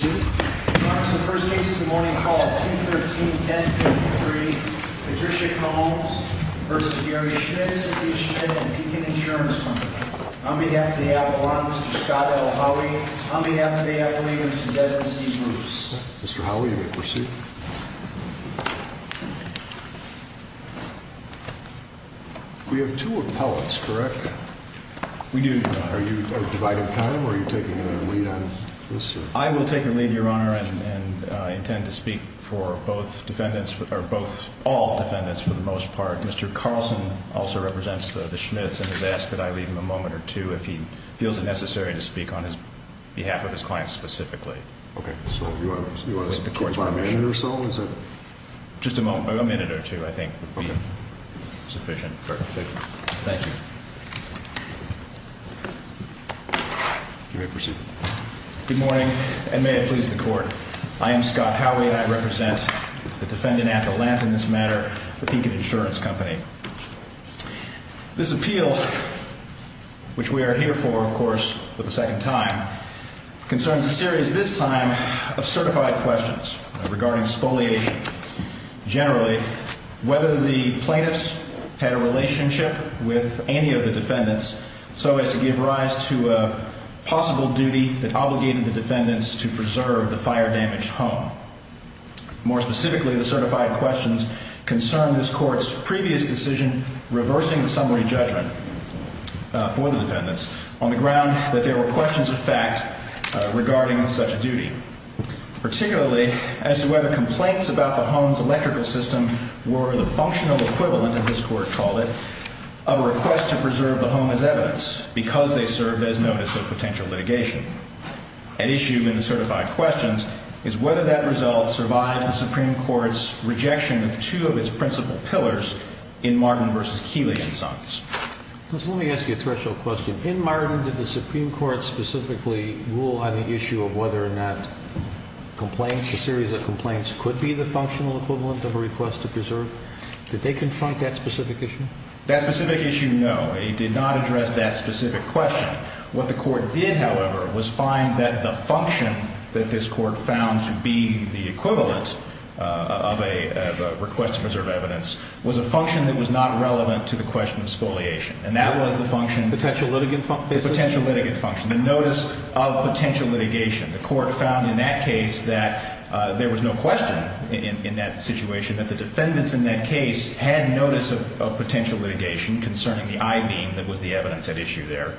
v. Gary Schmidt and the Beacon Insurance Company. On behalf of the Avalon, Mr. Scott L. Howey. On behalf of the Avalon, Mr. Devin C. Moose. Mr. Howey, you may proceed. We have two appellants, correct? We do. Are you dividing time or are you taking a lead on this? I will take a lead, Your Honor, and intend to speak for both defendants, or both, all defendants for the most part. Mr. Carlson also represents the Schmidts and has asked that I leave him a moment or two if he feels it necessary to speak on behalf of his client specifically. Okay, so you want to keep him by a minute or so? Just a moment, a minute or two I think would be sufficient. Thank you. You may proceed. Good morning, and may it please the Court. I am Scott Howey and I represent the defendant at the length in this matter, the Beacon Insurance Company. This appeal, which we are here for, of course, for the second time, concerns a series this time of certified questions regarding spoliation. Generally, whether the plaintiffs had a relationship with any of the defendants so as to give rise to a possible duty that obligated the defendants to preserve the fire-damaged home. More specifically, the certified questions concern this Court's previous decision reversing the summary judgment for the defendants on the ground that there were questions of fact regarding such a duty. Particularly, as to whether complaints about the home's electrical system were the functional equivalent, as this Court called it, of a request to preserve the home as evidence because they served as notice of potential litigation. At issue in the certified questions is whether that result survived the Supreme Court's rejection of two of its principal pillars in Martin v. Keeley and Sons. Let me ask you a threshold question. In Martin, did the Supreme Court specifically rule on the issue of whether or not complaints, a series of complaints, could be the functional equivalent of a request to preserve? Did they confront that specific issue? That specific issue, no. It did not address that specific question. What the Court did, however, was find that the function that this Court found to be the equivalent of a request to preserve evidence was a function that was not relevant to the question of spoliation. And that was the function of the potential litigant function, the notice of potential litigation. The Court found in that case that there was no question in that situation that the defendants in that case had notice of potential litigation concerning the I-beam that was the evidence at issue there,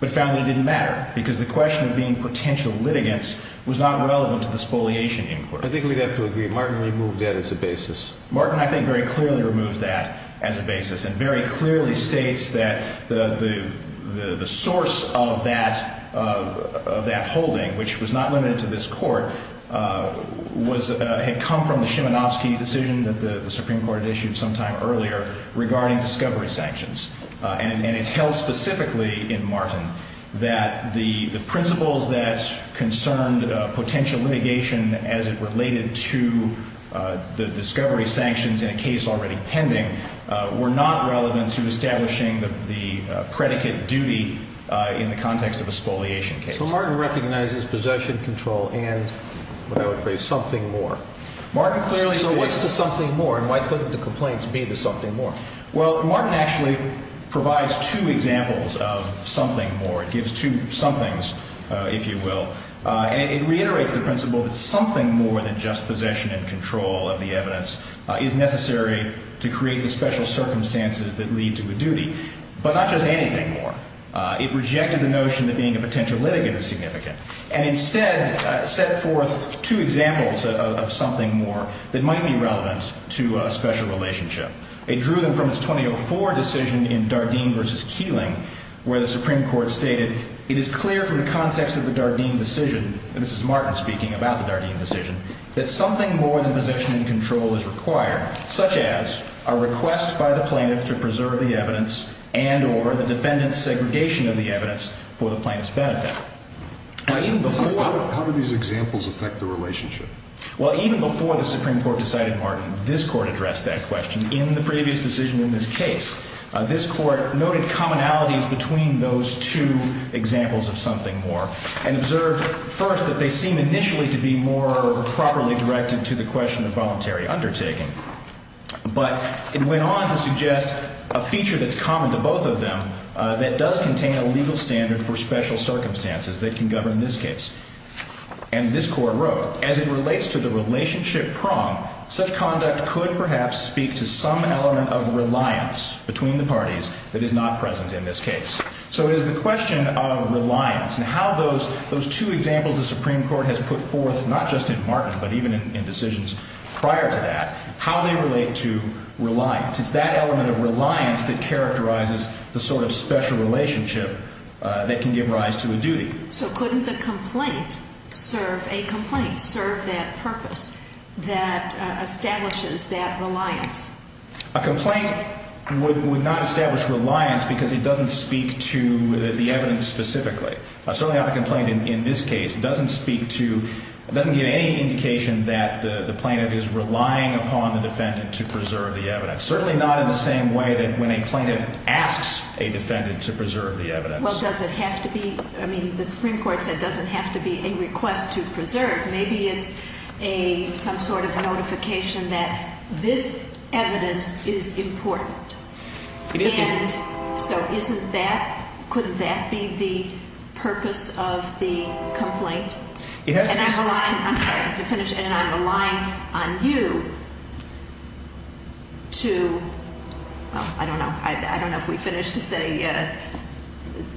but found it didn't matter because the question of being potential litigants was not relevant to the spoliation inquiry. I think we'd have to agree. Martin removed that as a basis. Martin, I think, very clearly removes that as a basis and very clearly states that the source of that holding, which was not limited to this Court, had come from the Shimanovsky decision that the Supreme Court had issued sometime earlier regarding discovery sanctions. And it held specifically in Martin that the principles that concerned potential litigation as it related to the discovery sanctions in a case already pending were not relevant to establishing the predicate duty in the context of a spoliation case. So Martin recognizes possession, control, and, what I would phrase, something more. Martin clearly states... So what's the something more? And why couldn't the complaints be the something more? Well, Martin actually provides two examples of something more. It gives two somethings, if you will. And it reiterates the principle that something more than just possession and control of the evidence is necessary to create the special circumstances that lead to a duty, but not just anything more. It rejected the notion that being a potential litigant is significant and instead set forth two examples of something more that might be relevant to a special relationship. It drew them from its 2004 decision in Dardeen v. Keeling, where the Supreme Court stated, It is clear from the context of the Dardeen decision, and this is Martin speaking about the Dardeen decision, that something more than possession and control is required, such as a request by the plaintiff to preserve the evidence and or the defendant's segregation of the evidence for the plaintiff's benefit. How do these examples affect the relationship? Well, even before the Supreme Court decided Martin, this Court addressed that question in the previous decision in this case. This Court noted commonalities between those two examples of something more and observed first that they seem initially to be more properly directed to the question of voluntary undertaking. But it went on to suggest a feature that's common to both of them that does contain a legal standard for special circumstances that can govern this case. And this Court wrote, As it relates to the relationship prong, such conduct could perhaps speak to some element of reliance between the parties that is not present in this case. So it is the question of reliance and how those two examples the Supreme Court has put forth, not just in Martin, but even in decisions prior to that, how they relate to reliance. It's that element of reliance that characterizes the sort of special relationship that can give rise to a duty. So couldn't the complaint serve a complaint, serve that purpose that establishes that reliance? A complaint would not establish reliance because it doesn't speak to the evidence specifically. Certainly not the complaint in this case doesn't speak to, doesn't give any indication that the plaintiff is relying upon the defendant to preserve the evidence. Certainly not in the same way that when a plaintiff asks a defendant to preserve the evidence. Well, does it have to be, I mean, the Supreme Court said it doesn't have to be a request to preserve. Maybe it's some sort of notification that this evidence is important. It isn't. And so isn't that, couldn't that be the purpose of the complaint? It has to be. And I'm relying on you to, well, I don't know. I don't know if we finished to say,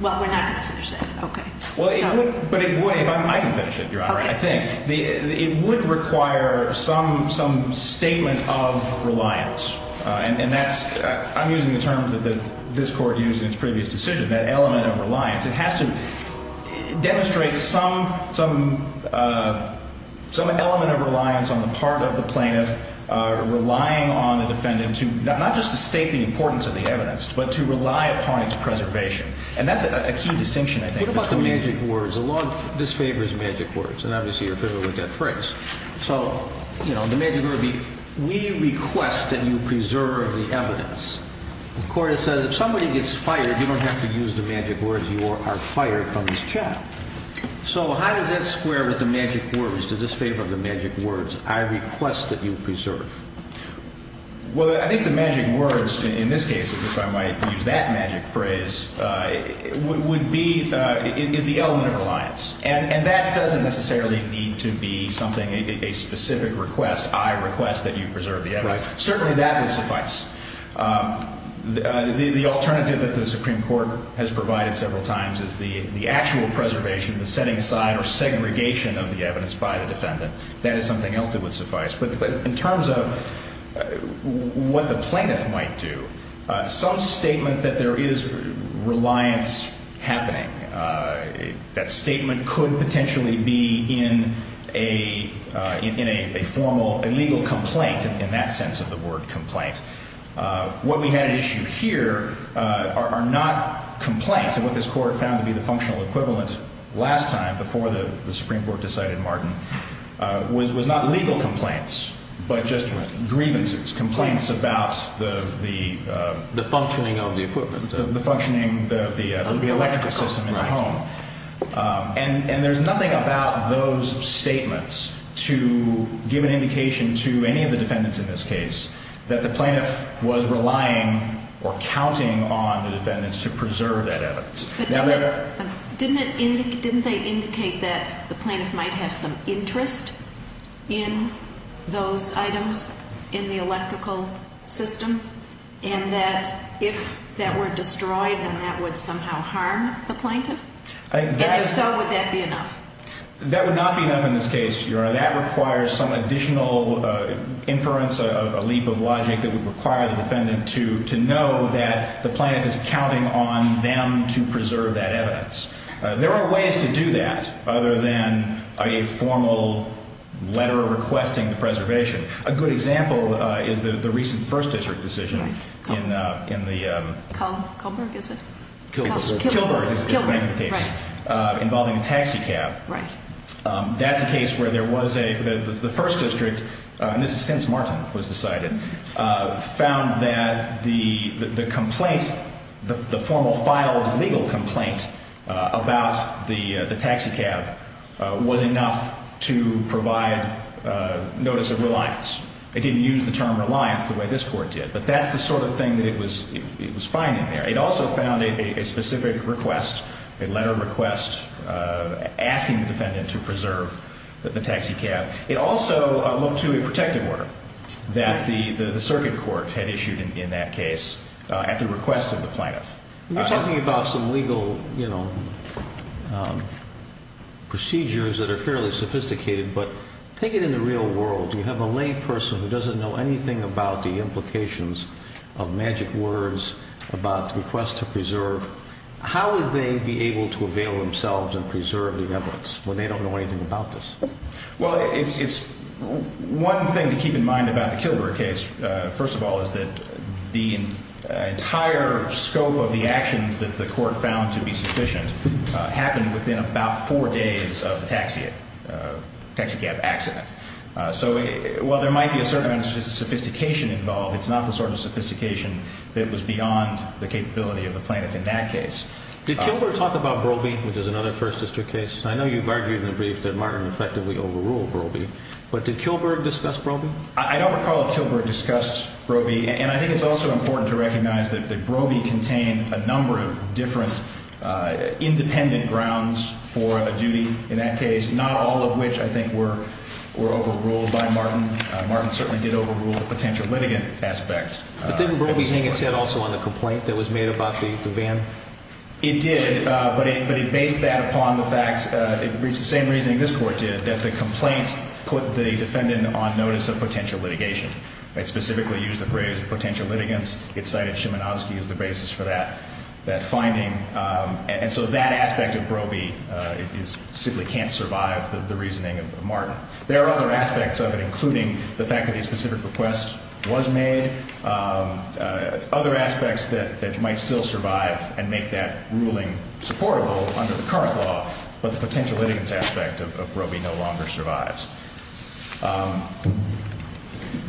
well, we're not going to finish that. Okay. Well, but it would, I can finish it, Your Honor, I think. It would require some statement of reliance. And that's, I'm using the terms that this Court used in its previous decision, that element of reliance. It has to demonstrate some element of reliance on the part of the plaintiff relying on the defendant to, not just to state the importance of the evidence, but to rely upon its preservation. And that's a key distinction, I think. What about the magic words? The law disfavors magic words, and obviously you're familiar with that phrase. So, you know, the magic word would be, we request that you preserve the evidence. The Court has said if somebody gets fired, you don't have to use the magic words. You are fired from this chat. So how does that square with the magic words? Does this favor the magic words? I request that you preserve. Well, I think the magic words in this case, if I might use that magic phrase, would be, is the element of reliance. And that doesn't necessarily need to be something, a specific request. I request that you preserve the evidence. Certainly that would suffice. The alternative that the Supreme Court has provided several times is the actual preservation, the setting aside or segregation of the evidence by the defendant. That is something else that would suffice. But in terms of what the plaintiff might do, some statement that there is reliance happening, that statement could potentially be in a formal, a legal complaint in that sense of the word complaint. What we had at issue here are not complaints. And what this Court found to be the functional equivalent last time, before the Supreme Court decided Martin, was not legal complaints, but just grievances, complaints about the… The functioning of the equipment. The functioning of the electrical system in the home. And there's nothing about those statements to give an indication to any of the defendants in this case that the plaintiff was relying or counting on the defendants to preserve that evidence. Didn't they indicate that the plaintiff might have some interest in those items in the electrical system? And that if that were destroyed, then that would somehow harm the plaintiff? And if so, would that be enough? That would not be enough in this case, Your Honor. So that requires some additional inference, a leap of logic that would require the defendant to know that the plaintiff is counting on them to preserve that evidence. There are ways to do that, other than a formal letter requesting the preservation. A good example is the recent First District decision in the… Kullberg, is it? Kullberg. Kullberg is the name of the case, involving a taxi cab. Right. That's a case where there was a… The First District, and this is since Martin was decided, found that the complaint, the formal filed legal complaint about the taxi cab was enough to provide notice of reliance. They didn't use the term reliance the way this court did. But that's the sort of thing that it was finding there. It also found a specific request, a letter request, asking the defendant to preserve the taxi cab. It also looked to a protective order that the circuit court had issued in that case at the request of the plaintiff. You're talking about some legal procedures that are fairly sophisticated, but take it in the real world. You have a lay person who doesn't know anything about the implications of magic words about the request to preserve. How would they be able to avail themselves and preserve the evidence when they don't know anything about this? Well, it's one thing to keep in mind about the Kullberg case, first of all, is that the entire scope of the actions that the court found to be sufficient happened within about four days of the taxi cab accident. So while there might be a certain amount of sophistication involved, it's not the sort of sophistication that was beyond the capability of the plaintiff in that case. Did Kullberg talk about Brobey, which is another First District case? I know you've argued in the brief that Martin effectively overruled Brobey, but did Kullberg discuss Brobey? I don't recall if Kullberg discussed Brobey. And I think it's also important to recognize that Brobey contained a number of different independent grounds for a duty in that case, not all of which I think were overruled by Martin. Martin certainly did overrule the potential litigant aspect. But didn't Brobey hang its head also on the complaint that was made about the van? It did, but it based that upon the fact, it reached the same reasoning this Court did, that the complaints put the defendant on notice of potential litigation. It specifically used the phrase potential litigants. It cited Szymanowski as the basis for that finding. And so that aspect of Brobey simply can't survive the reasoning of Martin. There are other aspects of it, including the fact that a specific request was made. Other aspects that might still survive and make that ruling supportable under the current law, but the potential litigants aspect of Brobey no longer survives.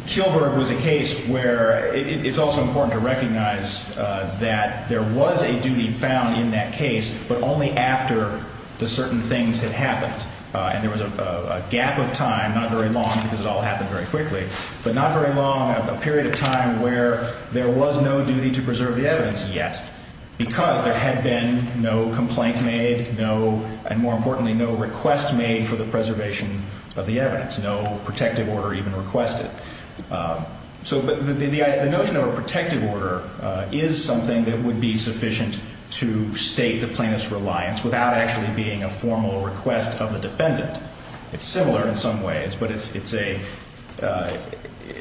Kullberg was a case where it's also important to recognize that there was a duty found in that case, but only after the certain things had happened. And there was a gap of time, not very long because it all happened very quickly, but not very long, a period of time where there was no duty to preserve the evidence yet, because there had been no complaint made, no, and more importantly, no request made for the preservation of the evidence, no protective order even requested. So the notion of a protective order is something that would be sufficient to state the plaintiff's reliance without actually being a formal request of the defendant. It's similar in some ways, but it's a,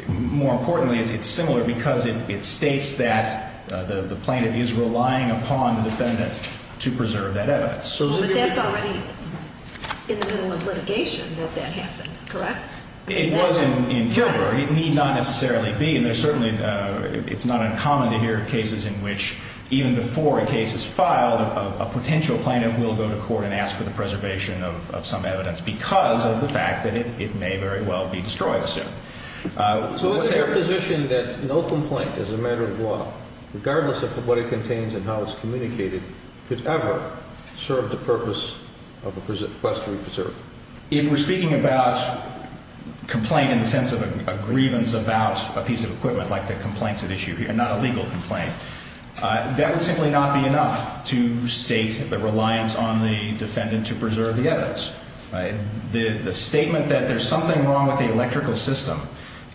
more importantly, it's similar because it states that the plaintiff is relying upon the defendant to preserve that evidence. But that's already in the middle of litigation that that happens, correct? It was in Kullberg. It need not necessarily be, and there's certainly, it's not uncommon to hear of cases in which even before a case is filed, a potential plaintiff will go to court and ask for the preservation of some evidence because of the fact that it may very well be destroyed soon. So is there a position that no complaint as a matter of law, regardless of what it contains and how it's communicated, could ever serve the purpose of a request to be preserved? If we're speaking about complaint in the sense of a grievance about a piece of equipment like the complaints at issue here, not a legal complaint, that would simply not be enough to state the reliance on the defendant to preserve the evidence, right? The statement that there's something wrong with the electrical system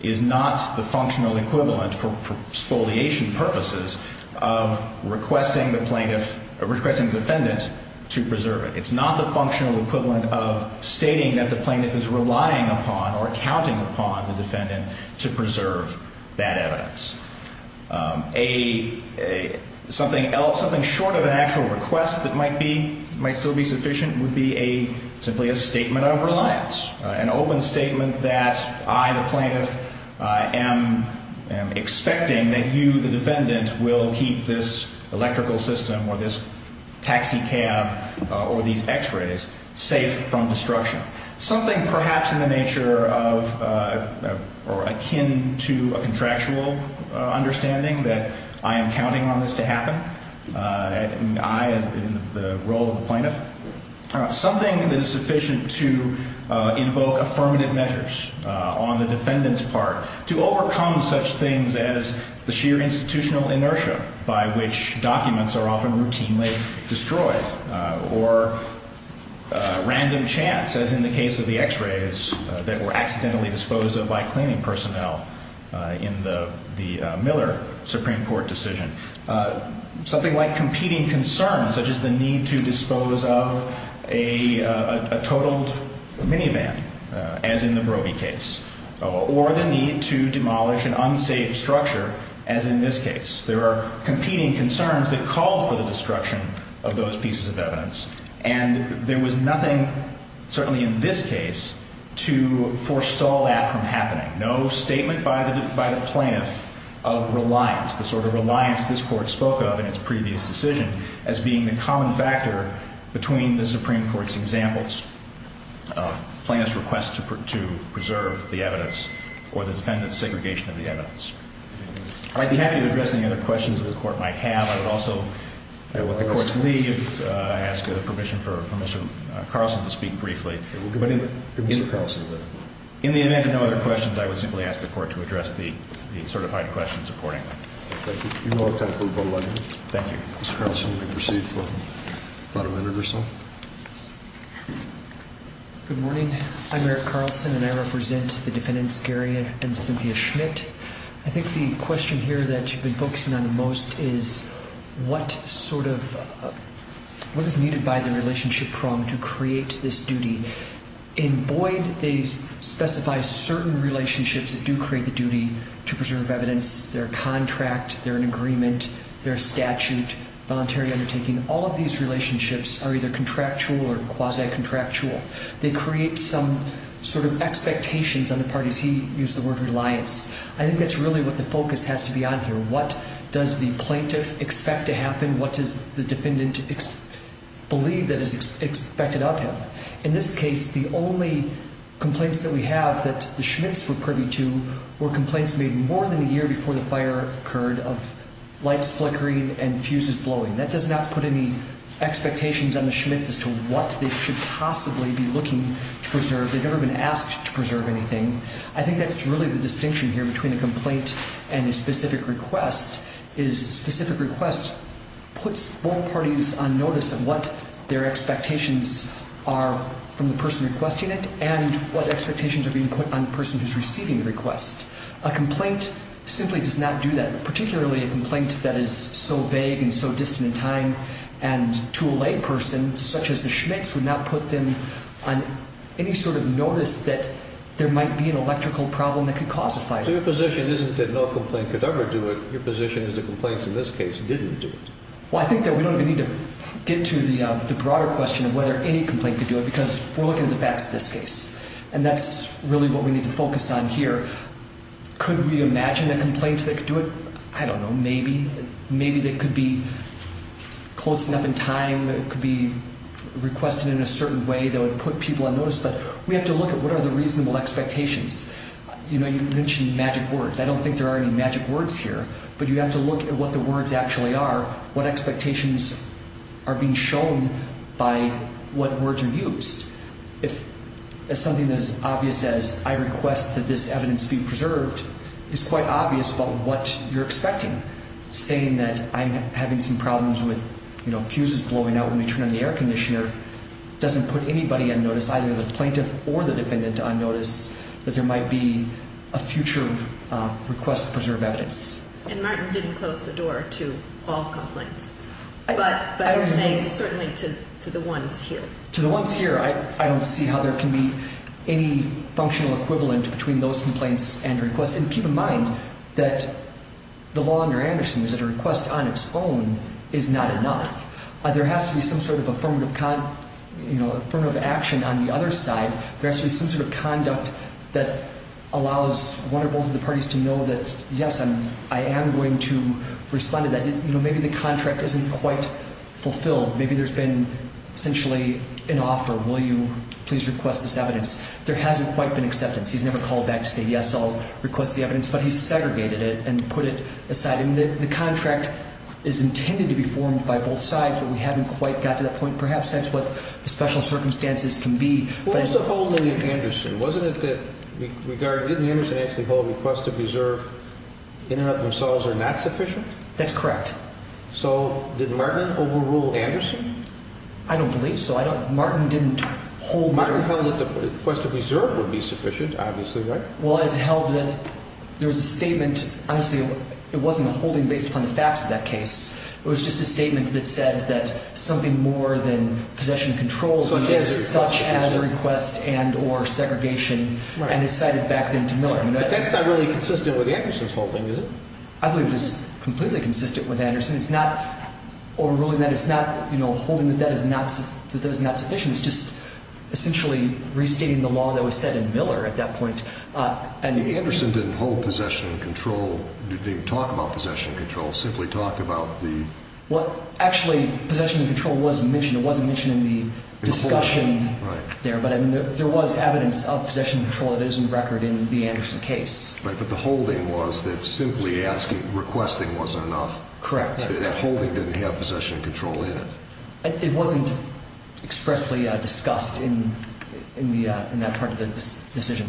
is not the functional equivalent for spoliation purposes of requesting the plaintiff, requesting the defendant to preserve it. It's not the functional equivalent of stating that the plaintiff is relying upon or counting upon the defendant to preserve that evidence. Something short of an actual request that might still be sufficient would be simply a statement of reliance, an open statement that I, the plaintiff, am expecting that you, the defendant, will keep this electrical system or this taxi cab or these x-rays safe from destruction. Something perhaps in the nature of or akin to a contractual understanding that I am counting on this to happen, and I as in the role of the plaintiff, something that is sufficient to invoke affirmative measures on the defendant's part to overcome such things as the sheer institutional inertia by which documents are often routinely destroyed, or random chance as in the case of the x-rays that were accidentally disposed of by cleaning personnel in the Miller Supreme Court decision. Something like competing concerns such as the need to dispose of a totaled minivan as in the Broby case, or the need to demolish an unsafe structure as in this case. There are competing concerns that call for the destruction of those pieces of evidence. And there was nothing, certainly in this case, to forestall that from happening. No statement by the plaintiff of reliance, the sort of reliance this Court spoke of in its previous decision as being the common factor between the Supreme Court's examples of plaintiff's request to preserve the evidence or the defendant's segregation of the evidence. I'd be happy to address any other questions that the Court might have. I would also let the Court leave. I ask permission for Mr. Carlson to speak briefly. Give Mr. Carlson a minute. In the event of no other questions, I would simply ask the Court to address the certified questions accordingly. Thank you. You have time for about a minute. Thank you. Mr. Carlson, you may proceed for about a minute or so. Good morning. I'm Eric Carlson, and I represent the defendants, Gary and Cynthia Schmidt. I think the question here that you've been focusing on most is what sort of ñ what is needed by the relationship prong to create this duty? In Boyd, they specify certain relationships that do create the duty to preserve evidence. They're a contract, they're an agreement, they're a statute, voluntary undertaking. All of these relationships are either contractual or quasi-contractual. They create some sort of expectations on the parties. He used the word reliance. I think that's really what the focus has to be on here. What does the plaintiff expect to happen? What does the defendant believe that is expected of him? In this case, the only complaints that we have that the Schmidts were privy to were complaints made more than a year before the fire occurred of lights flickering and fuses blowing. That does not put any expectations on the Schmidts as to what they should possibly be looking to preserve. They've never been asked to preserve anything. I think that's really the distinction here between a complaint and a specific request, is a specific request puts both parties on notice of what their expectations are from the person requesting it and what expectations are being put on the person who's receiving the request. A complaint simply does not do that, particularly a complaint that is so vague and so distant in time, and to a layperson such as the Schmidts would not put them on any sort of notice that there might be an electrical problem that could cause a fire. So your position isn't that no complaint could ever do it. Your position is that complaints in this case didn't do it. Well, I think that we don't even need to get to the broader question of whether any complaint could do it, because we're looking at the facts in this case, and that's really what we need to focus on here. Could we imagine a complaint that could do it? I don't know, maybe. Maybe they could be close enough in time, could be requested in a certain way that would put people on notice, but we have to look at what are the reasonable expectations. You know, you mentioned magic words. I don't think there are any magic words here, but you have to look at what the words actually are, what expectations are being shown by what words are used. Something as obvious as I request that this evidence be preserved is quite obvious about what you're expecting. Saying that I'm having some problems with, you know, fuses blowing out when you turn on the air conditioner doesn't put anybody on notice, either the plaintiff or the defendant on notice, that there might be a future request to preserve evidence. And Martin didn't close the door to all complaints, but you're saying certainly to the ones here. To the ones here, I don't see how there can be any functional equivalent between those complaints and requests. And keep in mind that the law under Anderson is that a request on its own is not enough. There has to be some sort of affirmative action on the other side. There has to be some sort of conduct that allows one or both of the parties to know that, yes, I am going to respond to that. You know, maybe the contract isn't quite fulfilled. Maybe there's been essentially an offer, will you please request this evidence. There hasn't quite been acceptance. He's never called back to say, yes, I'll request the evidence. But he's segregated it and put it aside. And the contract is intended to be formed by both sides, but we haven't quite got to that point. Perhaps that's what the special circumstances can be. What was the holding of Anderson? Wasn't it that regarding, didn't Anderson actually hold a request to preserve in and of themselves are not sufficient? That's correct. So did Martin overrule Anderson? I don't believe so. Martin didn't hold that. Martin held that the request to preserve would be sufficient, obviously, right? Well, it held that there was a statement. Honestly, it wasn't a holding based upon the facts of that case. It was just a statement that said that something more than possession controls such as a request and or segregation. And it cited back then to Miller. But that's not really consistent with Anderson's holding, is it? I believe it is completely consistent with Anderson. It's not overruling that. It's not holding that that is not sufficient. It's just essentially restating the law that was set in Miller at that point. Anderson didn't hold possession control, didn't even talk about possession control, simply talked about the... Well, actually, possession control was mentioned. It wasn't mentioned in the discussion there. Right. But there was evidence of possession control that is in record in the Anderson case. Right, but the holding was that simply requesting wasn't enough. Correct. That holding didn't have possession control in it. It wasn't expressly discussed in that part of the decision.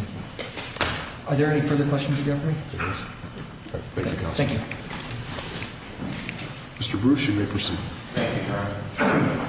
Are there any further questions of Jeffrey? There is. Thank you, Counselor. Thank you. Mr. Bruce, you may proceed. Thank you, Your Honor.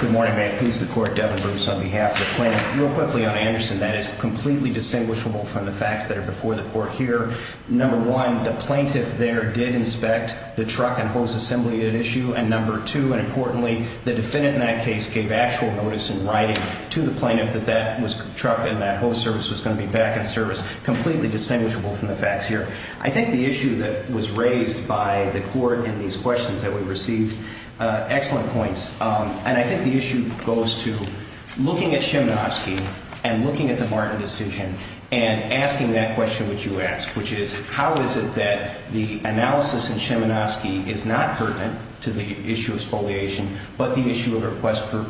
Good morning. May it please the Court, Devin Bruce on behalf of the plaintiff. Real quickly on Anderson, that is completely distinguishable from the facts that are before the Court here. Number one, the plaintiff there did inspect the truck and hose assembly at issue. And number two, and importantly, the defendant in that case gave actual notice in writing to the plaintiff that that truck and that hose service was going to be back in service. Completely distinguishable from the facts here. I think the issue that was raised by the Court in these questions that we received, excellent points. And I think the issue goes to looking at Szymanowski and looking at the Martin decision and asking that question which you asked, which is, how is it that the analysis in Szymanowski is not pertinent to the issue of spoliation but the issue of request for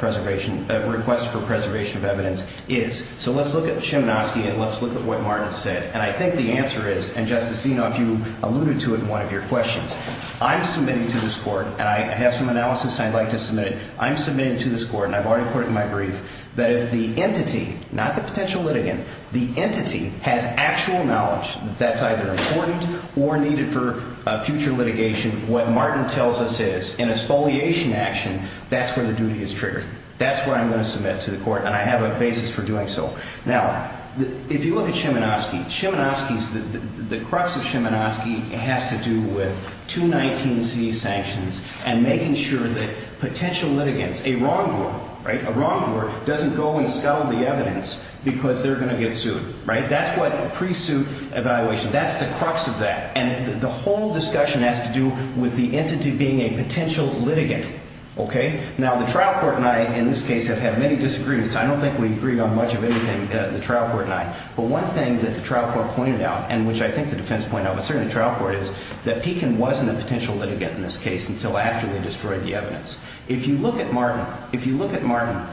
preservation of evidence is? So let's look at Szymanowski and let's look at what Martin said. And I think the answer is, and Justice Zinoff, you alluded to it in one of your questions, I'm submitting to this Court, and I have some analysis and I'd like to submit it. I'm submitting to this Court, and I've already put it in my brief, that if the entity, not the potential litigant, the entity has actual knowledge that that's either important or needed for future litigation, what Martin tells us is, in a spoliation action, that's where the duty is triggered. That's where I'm going to submit to the Court, and I have a basis for doing so. Now, if you look at Szymanowski, Szymanowski's, the crux of Szymanowski has to do with 219C sanctions and making sure that potential litigants, a wrongdoer, right? A wrongdoer doesn't go and scuttle the evidence because they're going to get sued, right? That's what pre-suit evaluation, that's the crux of that. And the whole discussion has to do with the entity being a potential litigant, okay? Now, the trial court and I, in this case, have had many disagreements. I don't think we agreed on much of anything, the trial court and I. But one thing that the trial court pointed out, and which I think the defense pointed out, but certainly the trial court is, that Pekin wasn't a potential litigant in this case until after they destroyed the evidence. If you look at Martin, if you look at Martin,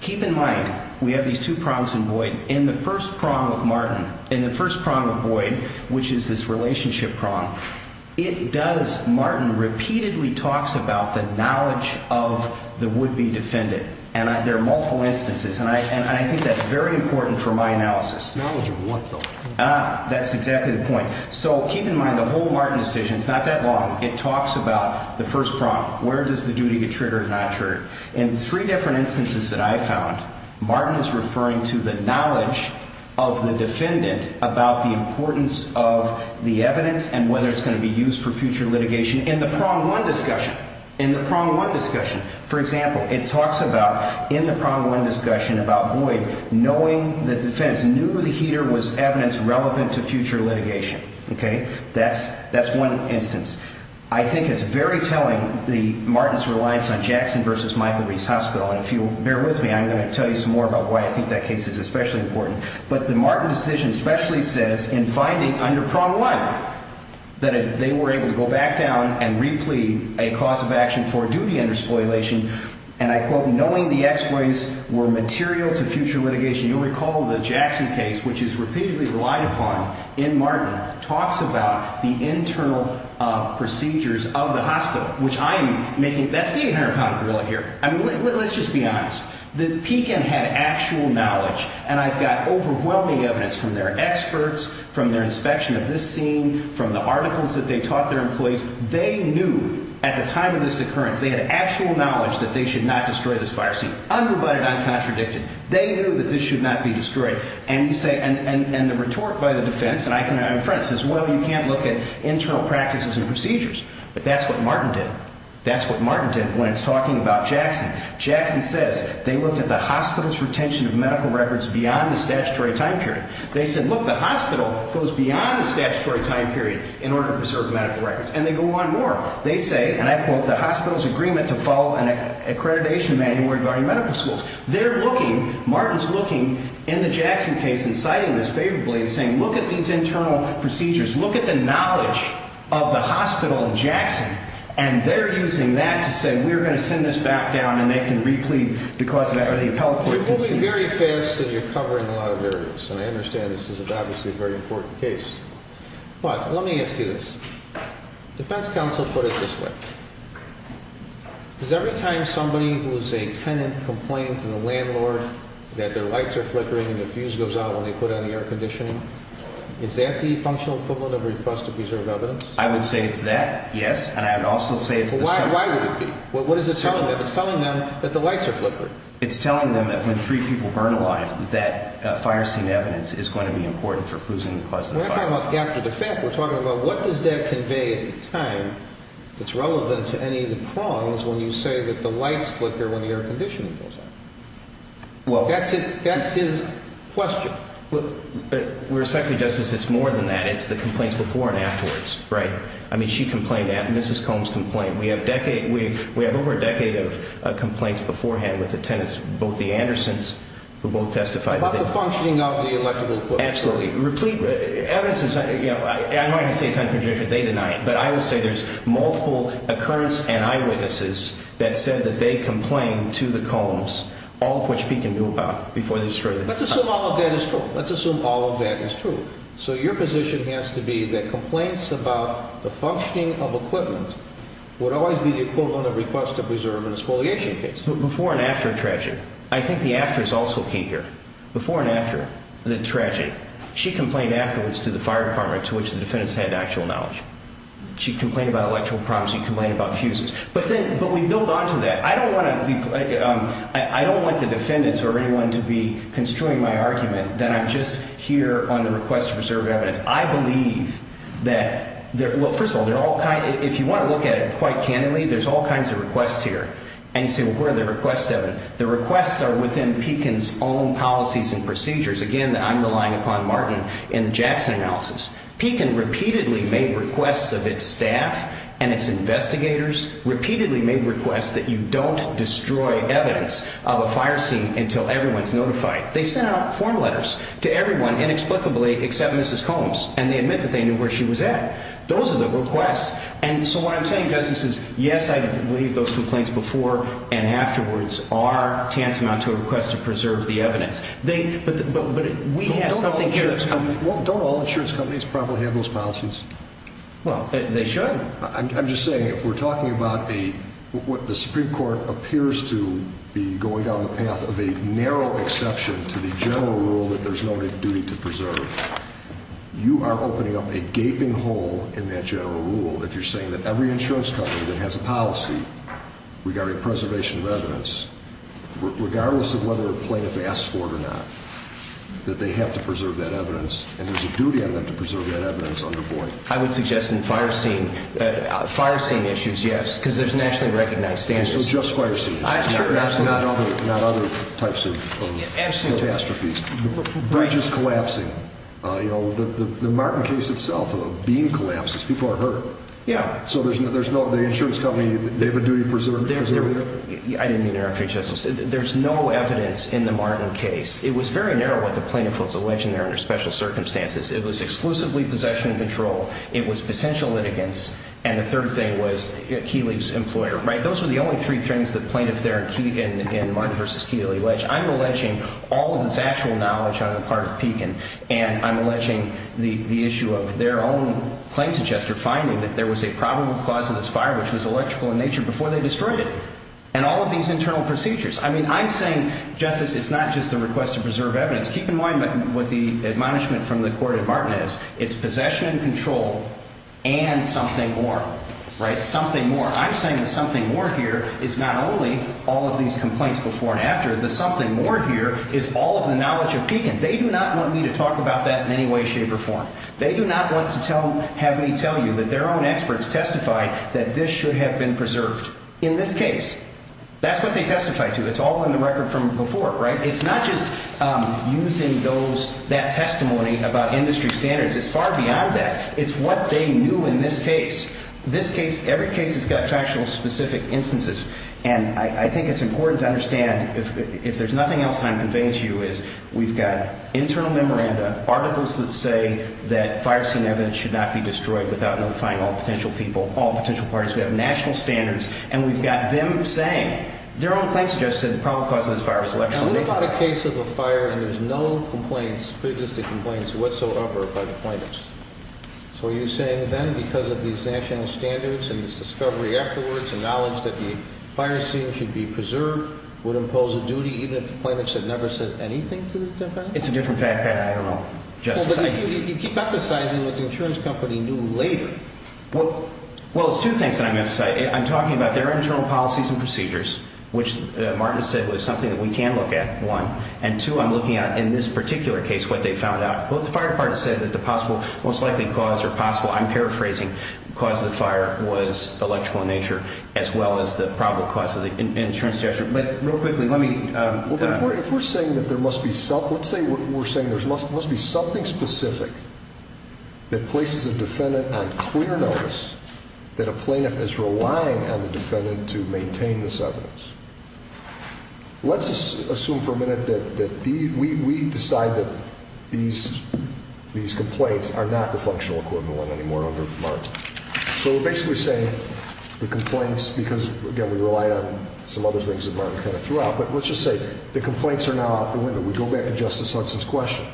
keep in mind we have these two prongs in void. In the first prong of Martin, in the first prong of Boyd, which is this relationship prong, it does, Martin repeatedly talks about the knowledge of the would-be defendant. And there are multiple instances, and I think that's very important for my analysis. Knowledge of what, though? That's exactly the point. So keep in mind the whole Martin decision is not that long. It talks about the first prong, where does the duty get triggered and not triggered. In three different instances that I found, Martin is referring to the knowledge of the defendant about the importance of the evidence and whether it's going to be used for future litigation in the prong one discussion. In the prong one discussion. For example, it talks about in the prong one discussion about Boyd knowing the defense, knew the heater was evidence relevant to future litigation. Okay? That's one instance. I think it's very telling, Martin's reliance on Jackson v. Michael Reese Hospital. And if you'll bear with me, I'm going to tell you some more about why I think that case is especially important. But the Martin decision especially says in finding under prong one that they were able to go back down and replete a cause of action for duty under spoliation, and I quote, knowing the exploits were material to future litigation. You'll recall the Jackson case, which is repeatedly relied upon in Martin, talks about the internal procedures of the hospital, which I'm making, that's the 800-pound rule here. Let's just be honest. The PECAN had actual knowledge, and I've got overwhelming evidence from their experts, from their inspection of this scene, from the articles that they taught their employees. They knew at the time of this occurrence, they had actual knowledge that they should not destroy this fire scene, unprovided, uncontradicted. They knew that this should not be destroyed. And you say, and the rhetoric by the defense, and I can, I'm a friend, says, well, you can't look at internal practices and procedures. But that's what Martin did. That's what Martin did when it's talking about Jackson. Jackson says they looked at the hospital's retention of medical records beyond the statutory time period. They said, look, the hospital goes beyond the statutory time period in order to preserve medical records. And they go on more. They say, and I quote, the hospital's agreement to follow an accreditation manual regarding medical schools. They're looking, Martin's looking, in the Jackson case and citing this favorably and saying, look at these internal procedures, look at the knowledge of the hospital in Jackson, and they're using that to say we're going to send this back down and they can reclaim the cause of the appellate court. So you're moving very fast and you're covering a lot of areas. And I understand this is obviously a very important case. But let me ask you this. Defense counsel put it this way. Does every time somebody who is a tenant complained to the landlord that their lights are flickering and the fuse goes out when they put on the air conditioning, is that the functional equivalent of a request to preserve evidence? I would say it's that, yes. And I would also say it's the same. Why would it be? What is it telling them? It's telling them that the lights are flickering. It's telling them that when three people burn alive, that fire scene evidence is going to be important for fusing the cause of the fire. We're not talking about after the fact. We're talking about what does that convey at the time that's relevant to any of the prongs when you say that the lights flicker when the air conditioning goes out? That's his question. With respect to Justice, it's more than that. It's the complaints before and afterwards. Right. I mean, she complained. Mrs. Combs complained. We have over a decade of complaints beforehand with the tenants, both the Andersons who both testified. About the functioning of the electrical equipment. Absolutely. Evidence is, you know, I'm not going to say it's unproven. They deny it. But I would say there's multiple occurrence and eyewitnesses that said that they complained to the Combs, all of which Pete can do about before they destroy the house. Let's assume all of that is true. Let's assume all of that is true. So your position has to be that complaints about the functioning of equipment would always be the equivalent of request to preserve an exfoliation case. Before and after a tragedy. I think the after is also key here. Before and after the tragedy. She complained afterwards to the fire department, to which the defendants had actual knowledge. She complained about electrical problems. She complained about fuses. But we build on to that. I don't want the defendants or anyone to be construing my argument that I'm just here on the request to preserve evidence. I believe that, well, first of all, if you want to look at it quite candidly, there's all kinds of requests here. And you say, well, where are the requests, Devin? The requests are within Pekin's own policies and procedures. Again, I'm relying upon Martin in the Jackson analysis. Pekin repeatedly made requests of its staff and its investigators, repeatedly made requests that you don't destroy evidence of a fire scene until everyone's notified. They sent out form letters to everyone inexplicably except Mrs. Combs, and they admit that they knew where she was at. Those are the requests. And so what I'm saying, Justice, is yes, I believe those complaints before and afterwards are tantamount to a request to preserve the evidence. But we have something here that's coming. Don't all insurance companies probably have those policies? Well, they should. I'm just saying if we're talking about what the Supreme Court appears to be going down the path of a narrow exception to the general rule that there's no duty to preserve, you are opening up a gaping hole in that general rule if you're saying that every insurance company that has a policy regarding preservation of evidence, regardless of whether a plaintiff asks for it or not, that they have to preserve that evidence and there's a duty on them to preserve that evidence under board. I would suggest in fire scene issues, yes, because there's nationally recognized standards. So just fire scenes, not other types of catastrophes. Bridges collapsing. The Martin case itself, a beam collapses. People are hurt. Yeah. So the insurance company, they have a duty to preserve their evidence? I didn't mean to interrupt you, Justice. There's no evidence in the Martin case. It was very narrow what the plaintiff was alleged there under special circumstances. It was exclusively possession and control. It was potential litigants. And the third thing was Keeley's employer. Those were the only three things the plaintiff there in Martin v. Keeley alleged. I'm alleging all of this actual knowledge on the part of Pekin, and I'm alleging the issue of their own claims adjuster finding that there was a probable cause of this fire, which was electrical in nature, before they destroyed it. And all of these internal procedures. I mean, I'm saying, Justice, it's not just a request to preserve evidence. Keep in mind what the admonishment from the court in Martin is. It's possession and control and something more. Something more. I'm saying the something more here is not only all of these complaints before and after. The something more here is all of the knowledge of Pekin. They do not want me to talk about that in any way, shape, or form. They do not want to have me tell you that their own experts testified that this should have been preserved. In this case, that's what they testified to. It's all in the record from before, right? It's not just using that testimony about industry standards. It's far beyond that. It's what they knew in this case. This case, every case has got factually specific instances. And I think it's important to understand, if there's nothing else that I'm conveying to you, is we've got internal memoranda, articles that say that fire scene evidence should not be destroyed without notifying all potential people, all potential parties. We have national standards. And we've got them saying, their own claims, Justice, that the probable cause of this fire was electrical in nature. And what about a case of a fire and there's no complaints, pre-existing complaints, whatsoever by the plaintiffs? So are you saying then, because of these national standards and this discovery afterwards, the knowledge that the fire scene should be preserved would impose a duty, even if the plaintiffs had never said anything to the defendant? It's a different fact. I don't know, Justice. You keep emphasizing that the insurance company knew later. Well, it's two things that I'm emphasizing. I'm talking about their internal policies and procedures, which Martin said was something that we can look at, one. And, two, I'm looking at, in this particular case, what they found out. Well, the fire department said that the possible, most likely cause or possible, I'm paraphrasing, cause of the fire was electrical in nature as well as the probable cause of the insurance gesture. But real quickly, let me. If we're saying that there must be something specific that places a defendant on clear notice that a plaintiff is relying on the defendant to maintain this evidence, let's assume for a minute that we decide that these complaints are not the functional equivalent anymore under Martin. So we're basically saying the complaints, because, again, we relied on some other things that Martin kind of threw out, but let's just say the complaints are now out the window. We go back to Justice Hudson's question.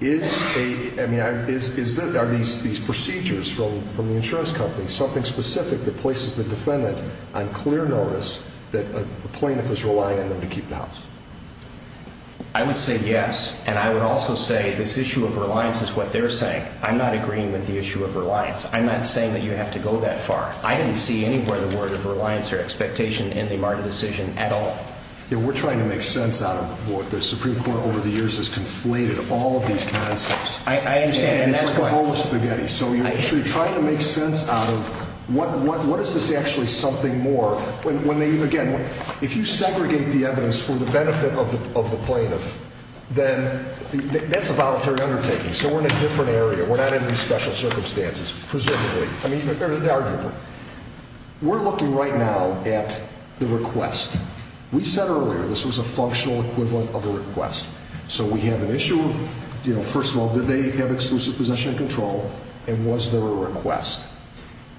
Are these procedures from the insurance company something specific that places the defendant on clear notice that a plaintiff is relying on them to keep the house? I would say yes, and I would also say this issue of reliance is what they're saying. I'm not agreeing with the issue of reliance. I'm not saying that you have to go that far. I didn't see anywhere the word of reliance or expectation in the Martin decision at all. We're trying to make sense out of what the Supreme Court over the years has conflated all of these concepts. I understand. It's like a bowl of spaghetti. So you're trying to make sense out of what is this actually something more. Again, if you segregate the evidence for the benefit of the plaintiff, then that's a voluntary undertaking. So we're in a different area. We're not in any special circumstances, presumably, or arguably. We're looking right now at the request. We said earlier this was a functional equivalent of a request. So we have an issue of, first of all, did they have exclusive possession and control, and was there a request?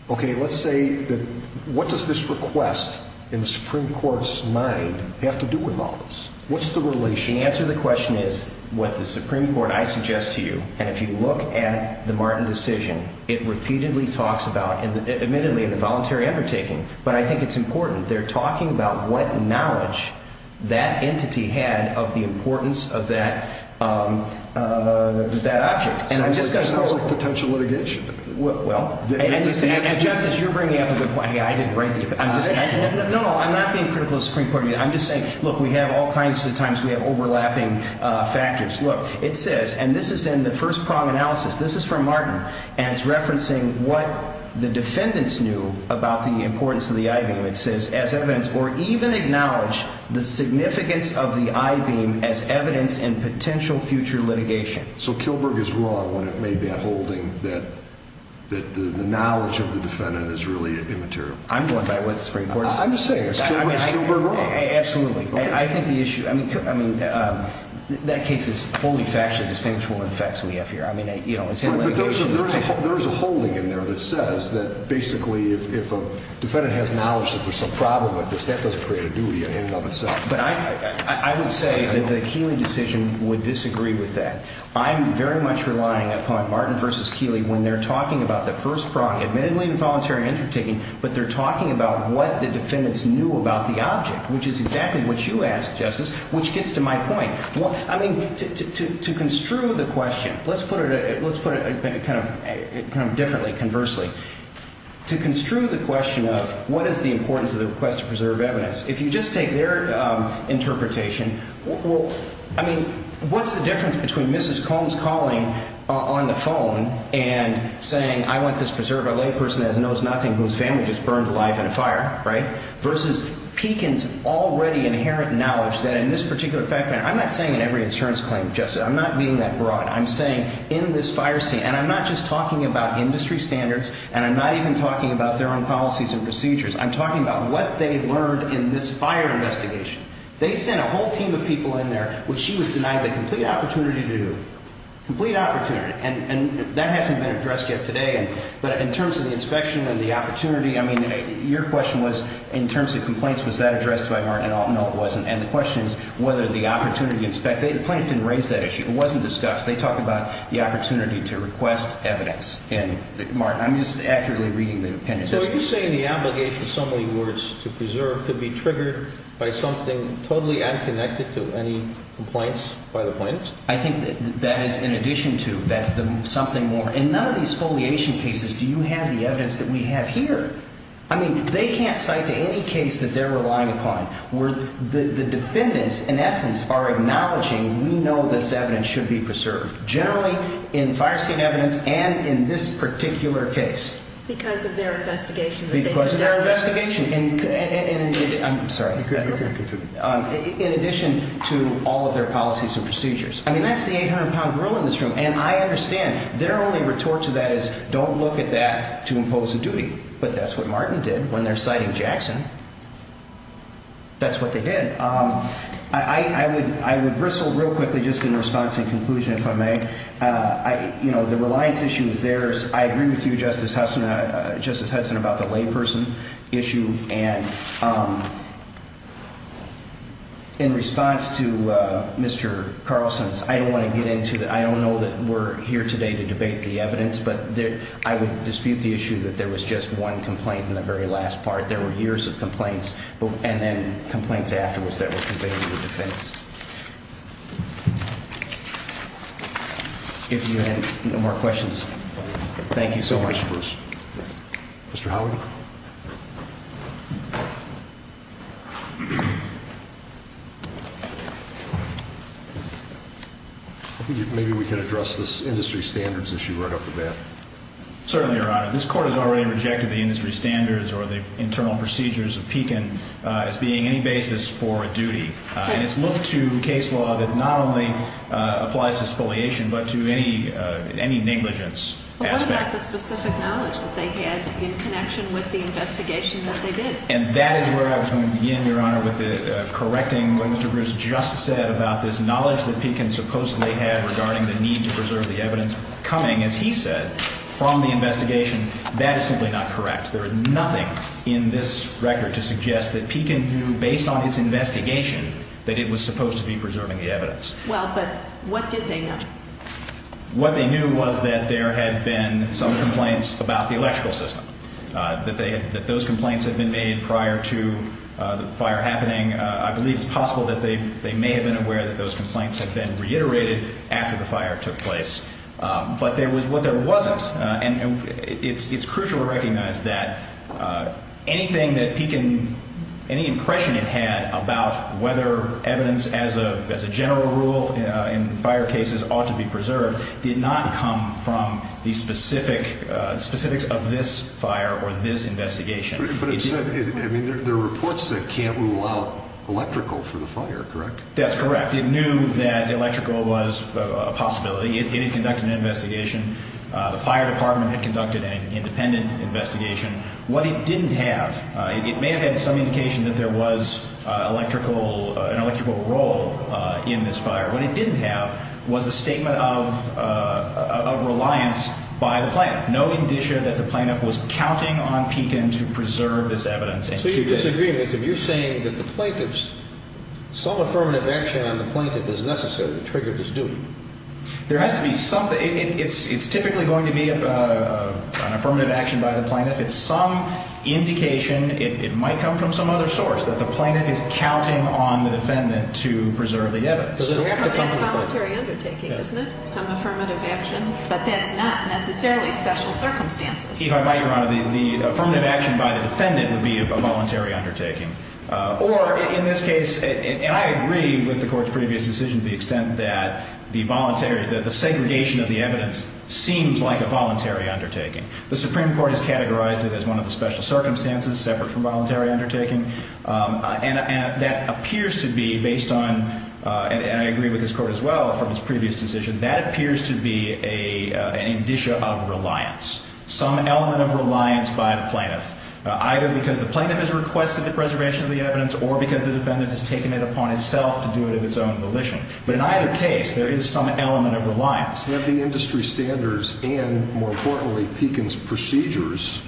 Okay, let's say that what does this request in the Supreme Court's mind have to do with all this? What's the relation? The answer to the question is what the Supreme Court, I suggest to you, and if you look at the Martin decision, it repeatedly talks about, admittedly, the voluntary undertaking, but I think it's important. They're talking about what knowledge that entity had of the importance of that object. So this sounds like potential litigation to me. Well, and Justice, you're bringing up a good point. I didn't write the opinion. No, no, I'm not being critical of the Supreme Court. I'm just saying, look, we have all kinds of times we have overlapping factors. Look, it says, and this is in the first prong analysis. This is from Martin, and it's referencing what the defendants knew about the importance of the I-beam. It says, as evidence, or even acknowledge the significance of the I-beam as evidence in potential future litigation. So Kilberg is wrong when it made that holding that the knowledge of the defendant is really immaterial. I'm going by what the Supreme Court is saying. I'm just saying, is Kilberg wrong? Absolutely. I think the issue, I mean, that case is fully factually distinguishable from the facts we have here. I mean, you know, it's in litigation. But there is a holding in there that says that basically if a defendant has knowledge that there's some problem with this, that doesn't create a duty in and of itself. But I would say that the Keeley decision would disagree with that. I'm very much relying upon Martin v. Keeley when they're talking about the first prong, admittedly involuntary undertaking, but they're talking about what the defendants knew about the object, which is exactly what you asked, Justice, which gets to my point. I mean, to construe the question, let's put it kind of differently, conversely. To construe the question of what is the importance of the request to preserve evidence, if you just take their interpretation, I mean, what's the difference between Mrs. Cohn's calling on the phone and saying, I want this preserved by a layperson that knows nothing whose family just burned alive in a fire, right, versus Pekin's already inherent knowledge that in this particular fact, and I'm not saying in every insurance claim, Justice. I'm not being that broad. I'm saying in this fire scene, and I'm not just talking about industry standards, and I'm not even talking about their own policies and procedures. I'm talking about what they learned in this fire investigation. They sent a whole team of people in there, which she was denied the complete opportunity to do, complete opportunity. And that hasn't been addressed yet today. Again, but in terms of the inspection and the opportunity, I mean, your question was, in terms of complaints, was that addressed by Martin? No, it wasn't. And the question is whether the opportunity, the plaintiff didn't raise that issue. It wasn't discussed. They talked about the opportunity to request evidence. And, Martin, I'm just accurately reading the opinion. So are you saying the obligation, in some of your words, to preserve could be triggered by something totally unconnected to any complaints by the plaintiffs? I think that is in addition to. That's the something more. In none of these foliation cases do you have the evidence that we have here. I mean, they can't cite to any case that they're relying upon where the defendants, in essence, are acknowledging we know this evidence should be preserved. Generally, in fire scene evidence and in this particular case. Because of their investigation. Because of their investigation. I'm sorry. In addition to all of their policies and procedures. I mean, that's the 800-pound grill in this room. And I understand. Their only retort to that is don't look at that to impose a duty. But that's what Martin did when they're citing Jackson. That's what they did. I would bristle real quickly just in response and conclusion, if I may. You know, the reliance issue is theirs. I agree with you, Justice Hudson, about the layperson issue. And in response to Mr. Carlson's, I don't want to get into that. I don't know that we're here today to debate the evidence. But I would dispute the issue that there was just one complaint in the very last part. There were years of complaints. And then complaints afterwards that were conveyed to the defense. If you have no more questions. Thank you so much. Mr. Howard? Maybe we can address this industry standards issue right off the bat. Certainly, Your Honor. This Court has already rejected the industry standards or the internal procedures of Pekin as being any basis for a duty. And it's looked to case law that not only applies to spoliation but to any negligence aspect. It's not the specific knowledge that they had in connection with the investigation that they did. And that is where I was going to begin, Your Honor, with correcting what Mr. Bruce just said about this knowledge that Pekin supposedly had regarding the need to preserve the evidence coming, as he said, from the investigation. That is simply not correct. There is nothing in this record to suggest that Pekin knew, based on his investigation, that it was supposed to be preserving the evidence. Well, but what did they know? What they knew was that there had been some complaints about the electrical system, that those complaints had been made prior to the fire happening. I believe it's possible that they may have been aware that those complaints had been reiterated after the fire took place. But what there wasn't, and it's crucial to recognize that anything that Pekin, any impression it had about whether evidence as a general rule in fire cases ought to be preserved, did not come from the specifics of this fire or this investigation. But it said, I mean, there are reports that can't rule out electrical for the fire, correct? That's correct. It knew that electrical was a possibility. It had conducted an investigation. The fire department had conducted an independent investigation. What it didn't have, it may have had some indication that there was an electrical role in this fire. What it didn't have was a statement of reliance by the plaintiff, no indicia that the plaintiff was counting on Pekin to preserve this evidence. So you're disagreeing with him. You're saying that the plaintiff's, some affirmative action on the plaintiff is necessary to trigger this duty. There has to be something, it's typically going to be an affirmative action by the plaintiff. It's some indication, it might come from some other source, that the plaintiff is counting on the defendant to preserve the evidence. That's voluntary undertaking, isn't it? Some affirmative action, but that's not necessarily special circumstances. If I might, Your Honor, the affirmative action by the defendant would be a voluntary undertaking. Or, in this case, and I agree with the Court's previous decision to the extent that the voluntary, that the segregation of the evidence seems like a voluntary undertaking. The Supreme Court has categorized it as one of the special circumstances, separate from voluntary undertaking. And that appears to be based on, and I agree with this Court as well from its previous decision, that appears to be an indicia of reliance. Some element of reliance by the plaintiff. Either because the plaintiff has requested the preservation of the evidence or because the defendant has taken it upon itself to do it in its own volition. But in either case, there is some element of reliance. We have the industry standards and, more importantly, Pekin's procedures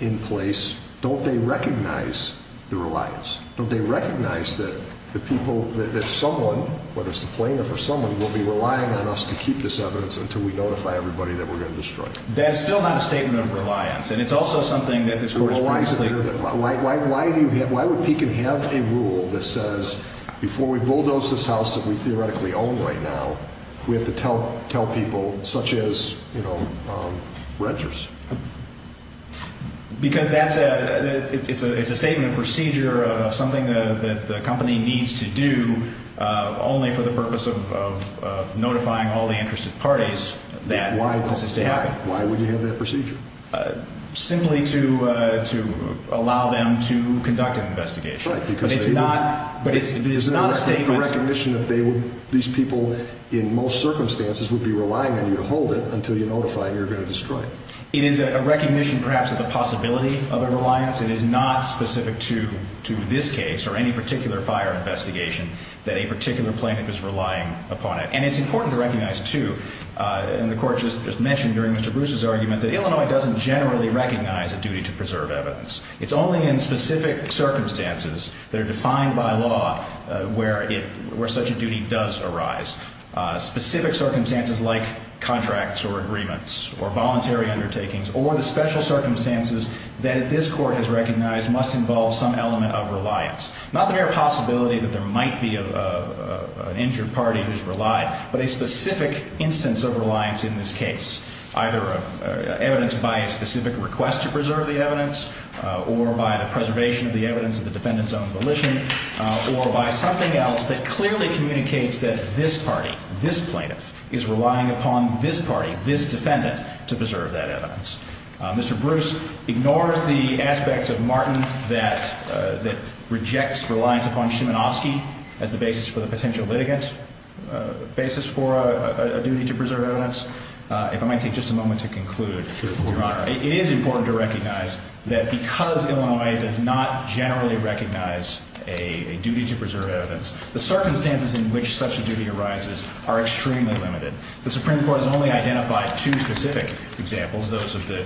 in place. Don't they recognize the reliance? Don't they recognize that the people, that someone, whether it's the plaintiff or someone, will be relying on us to keep this evidence until we notify everybody that we're going to destroy it? That is still not a statement of reliance. And it's also something that this Court has previously... Why would Pekin have a rule that says, before we bulldoze this house that we theoretically own right now, we have to tell people such as, you know, Regers? Because that's a, it's a statement of procedure of something that the company needs to do only for the purpose of notifying all the interested parties that this is to happen. Why would you have that procedure? Simply to allow them to conduct an investigation. Right, because they do. But it's not a statement... It's not a recognition that they would, these people, in most circumstances, would be relying on you to hold it until you notify and you're going to destroy it. It is a recognition, perhaps, of the possibility of a reliance. It is not specific to this case or any particular fire investigation that a particular plaintiff is relying upon it. And it's important to recognize, too, and the Court just mentioned during Mr. Bruce's argument, that Illinois doesn't generally recognize a duty to preserve evidence. It's only in specific circumstances that are defined by law where such a duty does arise. Specific circumstances like contracts or agreements or voluntary undertakings or the special circumstances that this Court has recognized must involve some element of reliance. Not the very possibility that there might be an injured party who's relied, but a specific instance of reliance in this case. Either evidence by a specific request to preserve the evidence, or by the preservation of the evidence of the defendant's own volition, or by something else that clearly communicates that this party, this plaintiff, is relying upon this party, this defendant, to preserve that evidence. Mr. Bruce ignores the aspects of Martin that rejects reliance upon Szymanowski as the basis for the potential litigant basis for a duty to preserve evidence. If I might take just a moment to conclude, Your Honor. It is important to recognize that because Illinois does not generally recognize a duty to preserve evidence, the circumstances in which such a duty arises are extremely limited. The Supreme Court has only identified two specific examples, those of the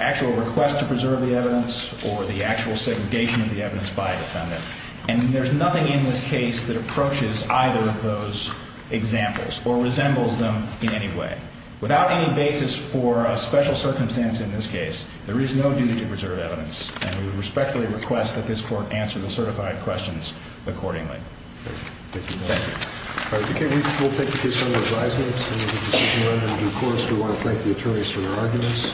actual request to preserve the evidence, or the actual segregation of the evidence by a defendant. And there's nothing in this case that approaches either of those examples or resembles them in any way. Without any basis for a special circumstance in this case, there is no duty to preserve evidence. And we respectfully request that this Court answer the certified questions accordingly. Thank you, Your Honor. All right. We'll take the case under advisement. We want to thank the attorneys for their arguments. We'll take a short recess.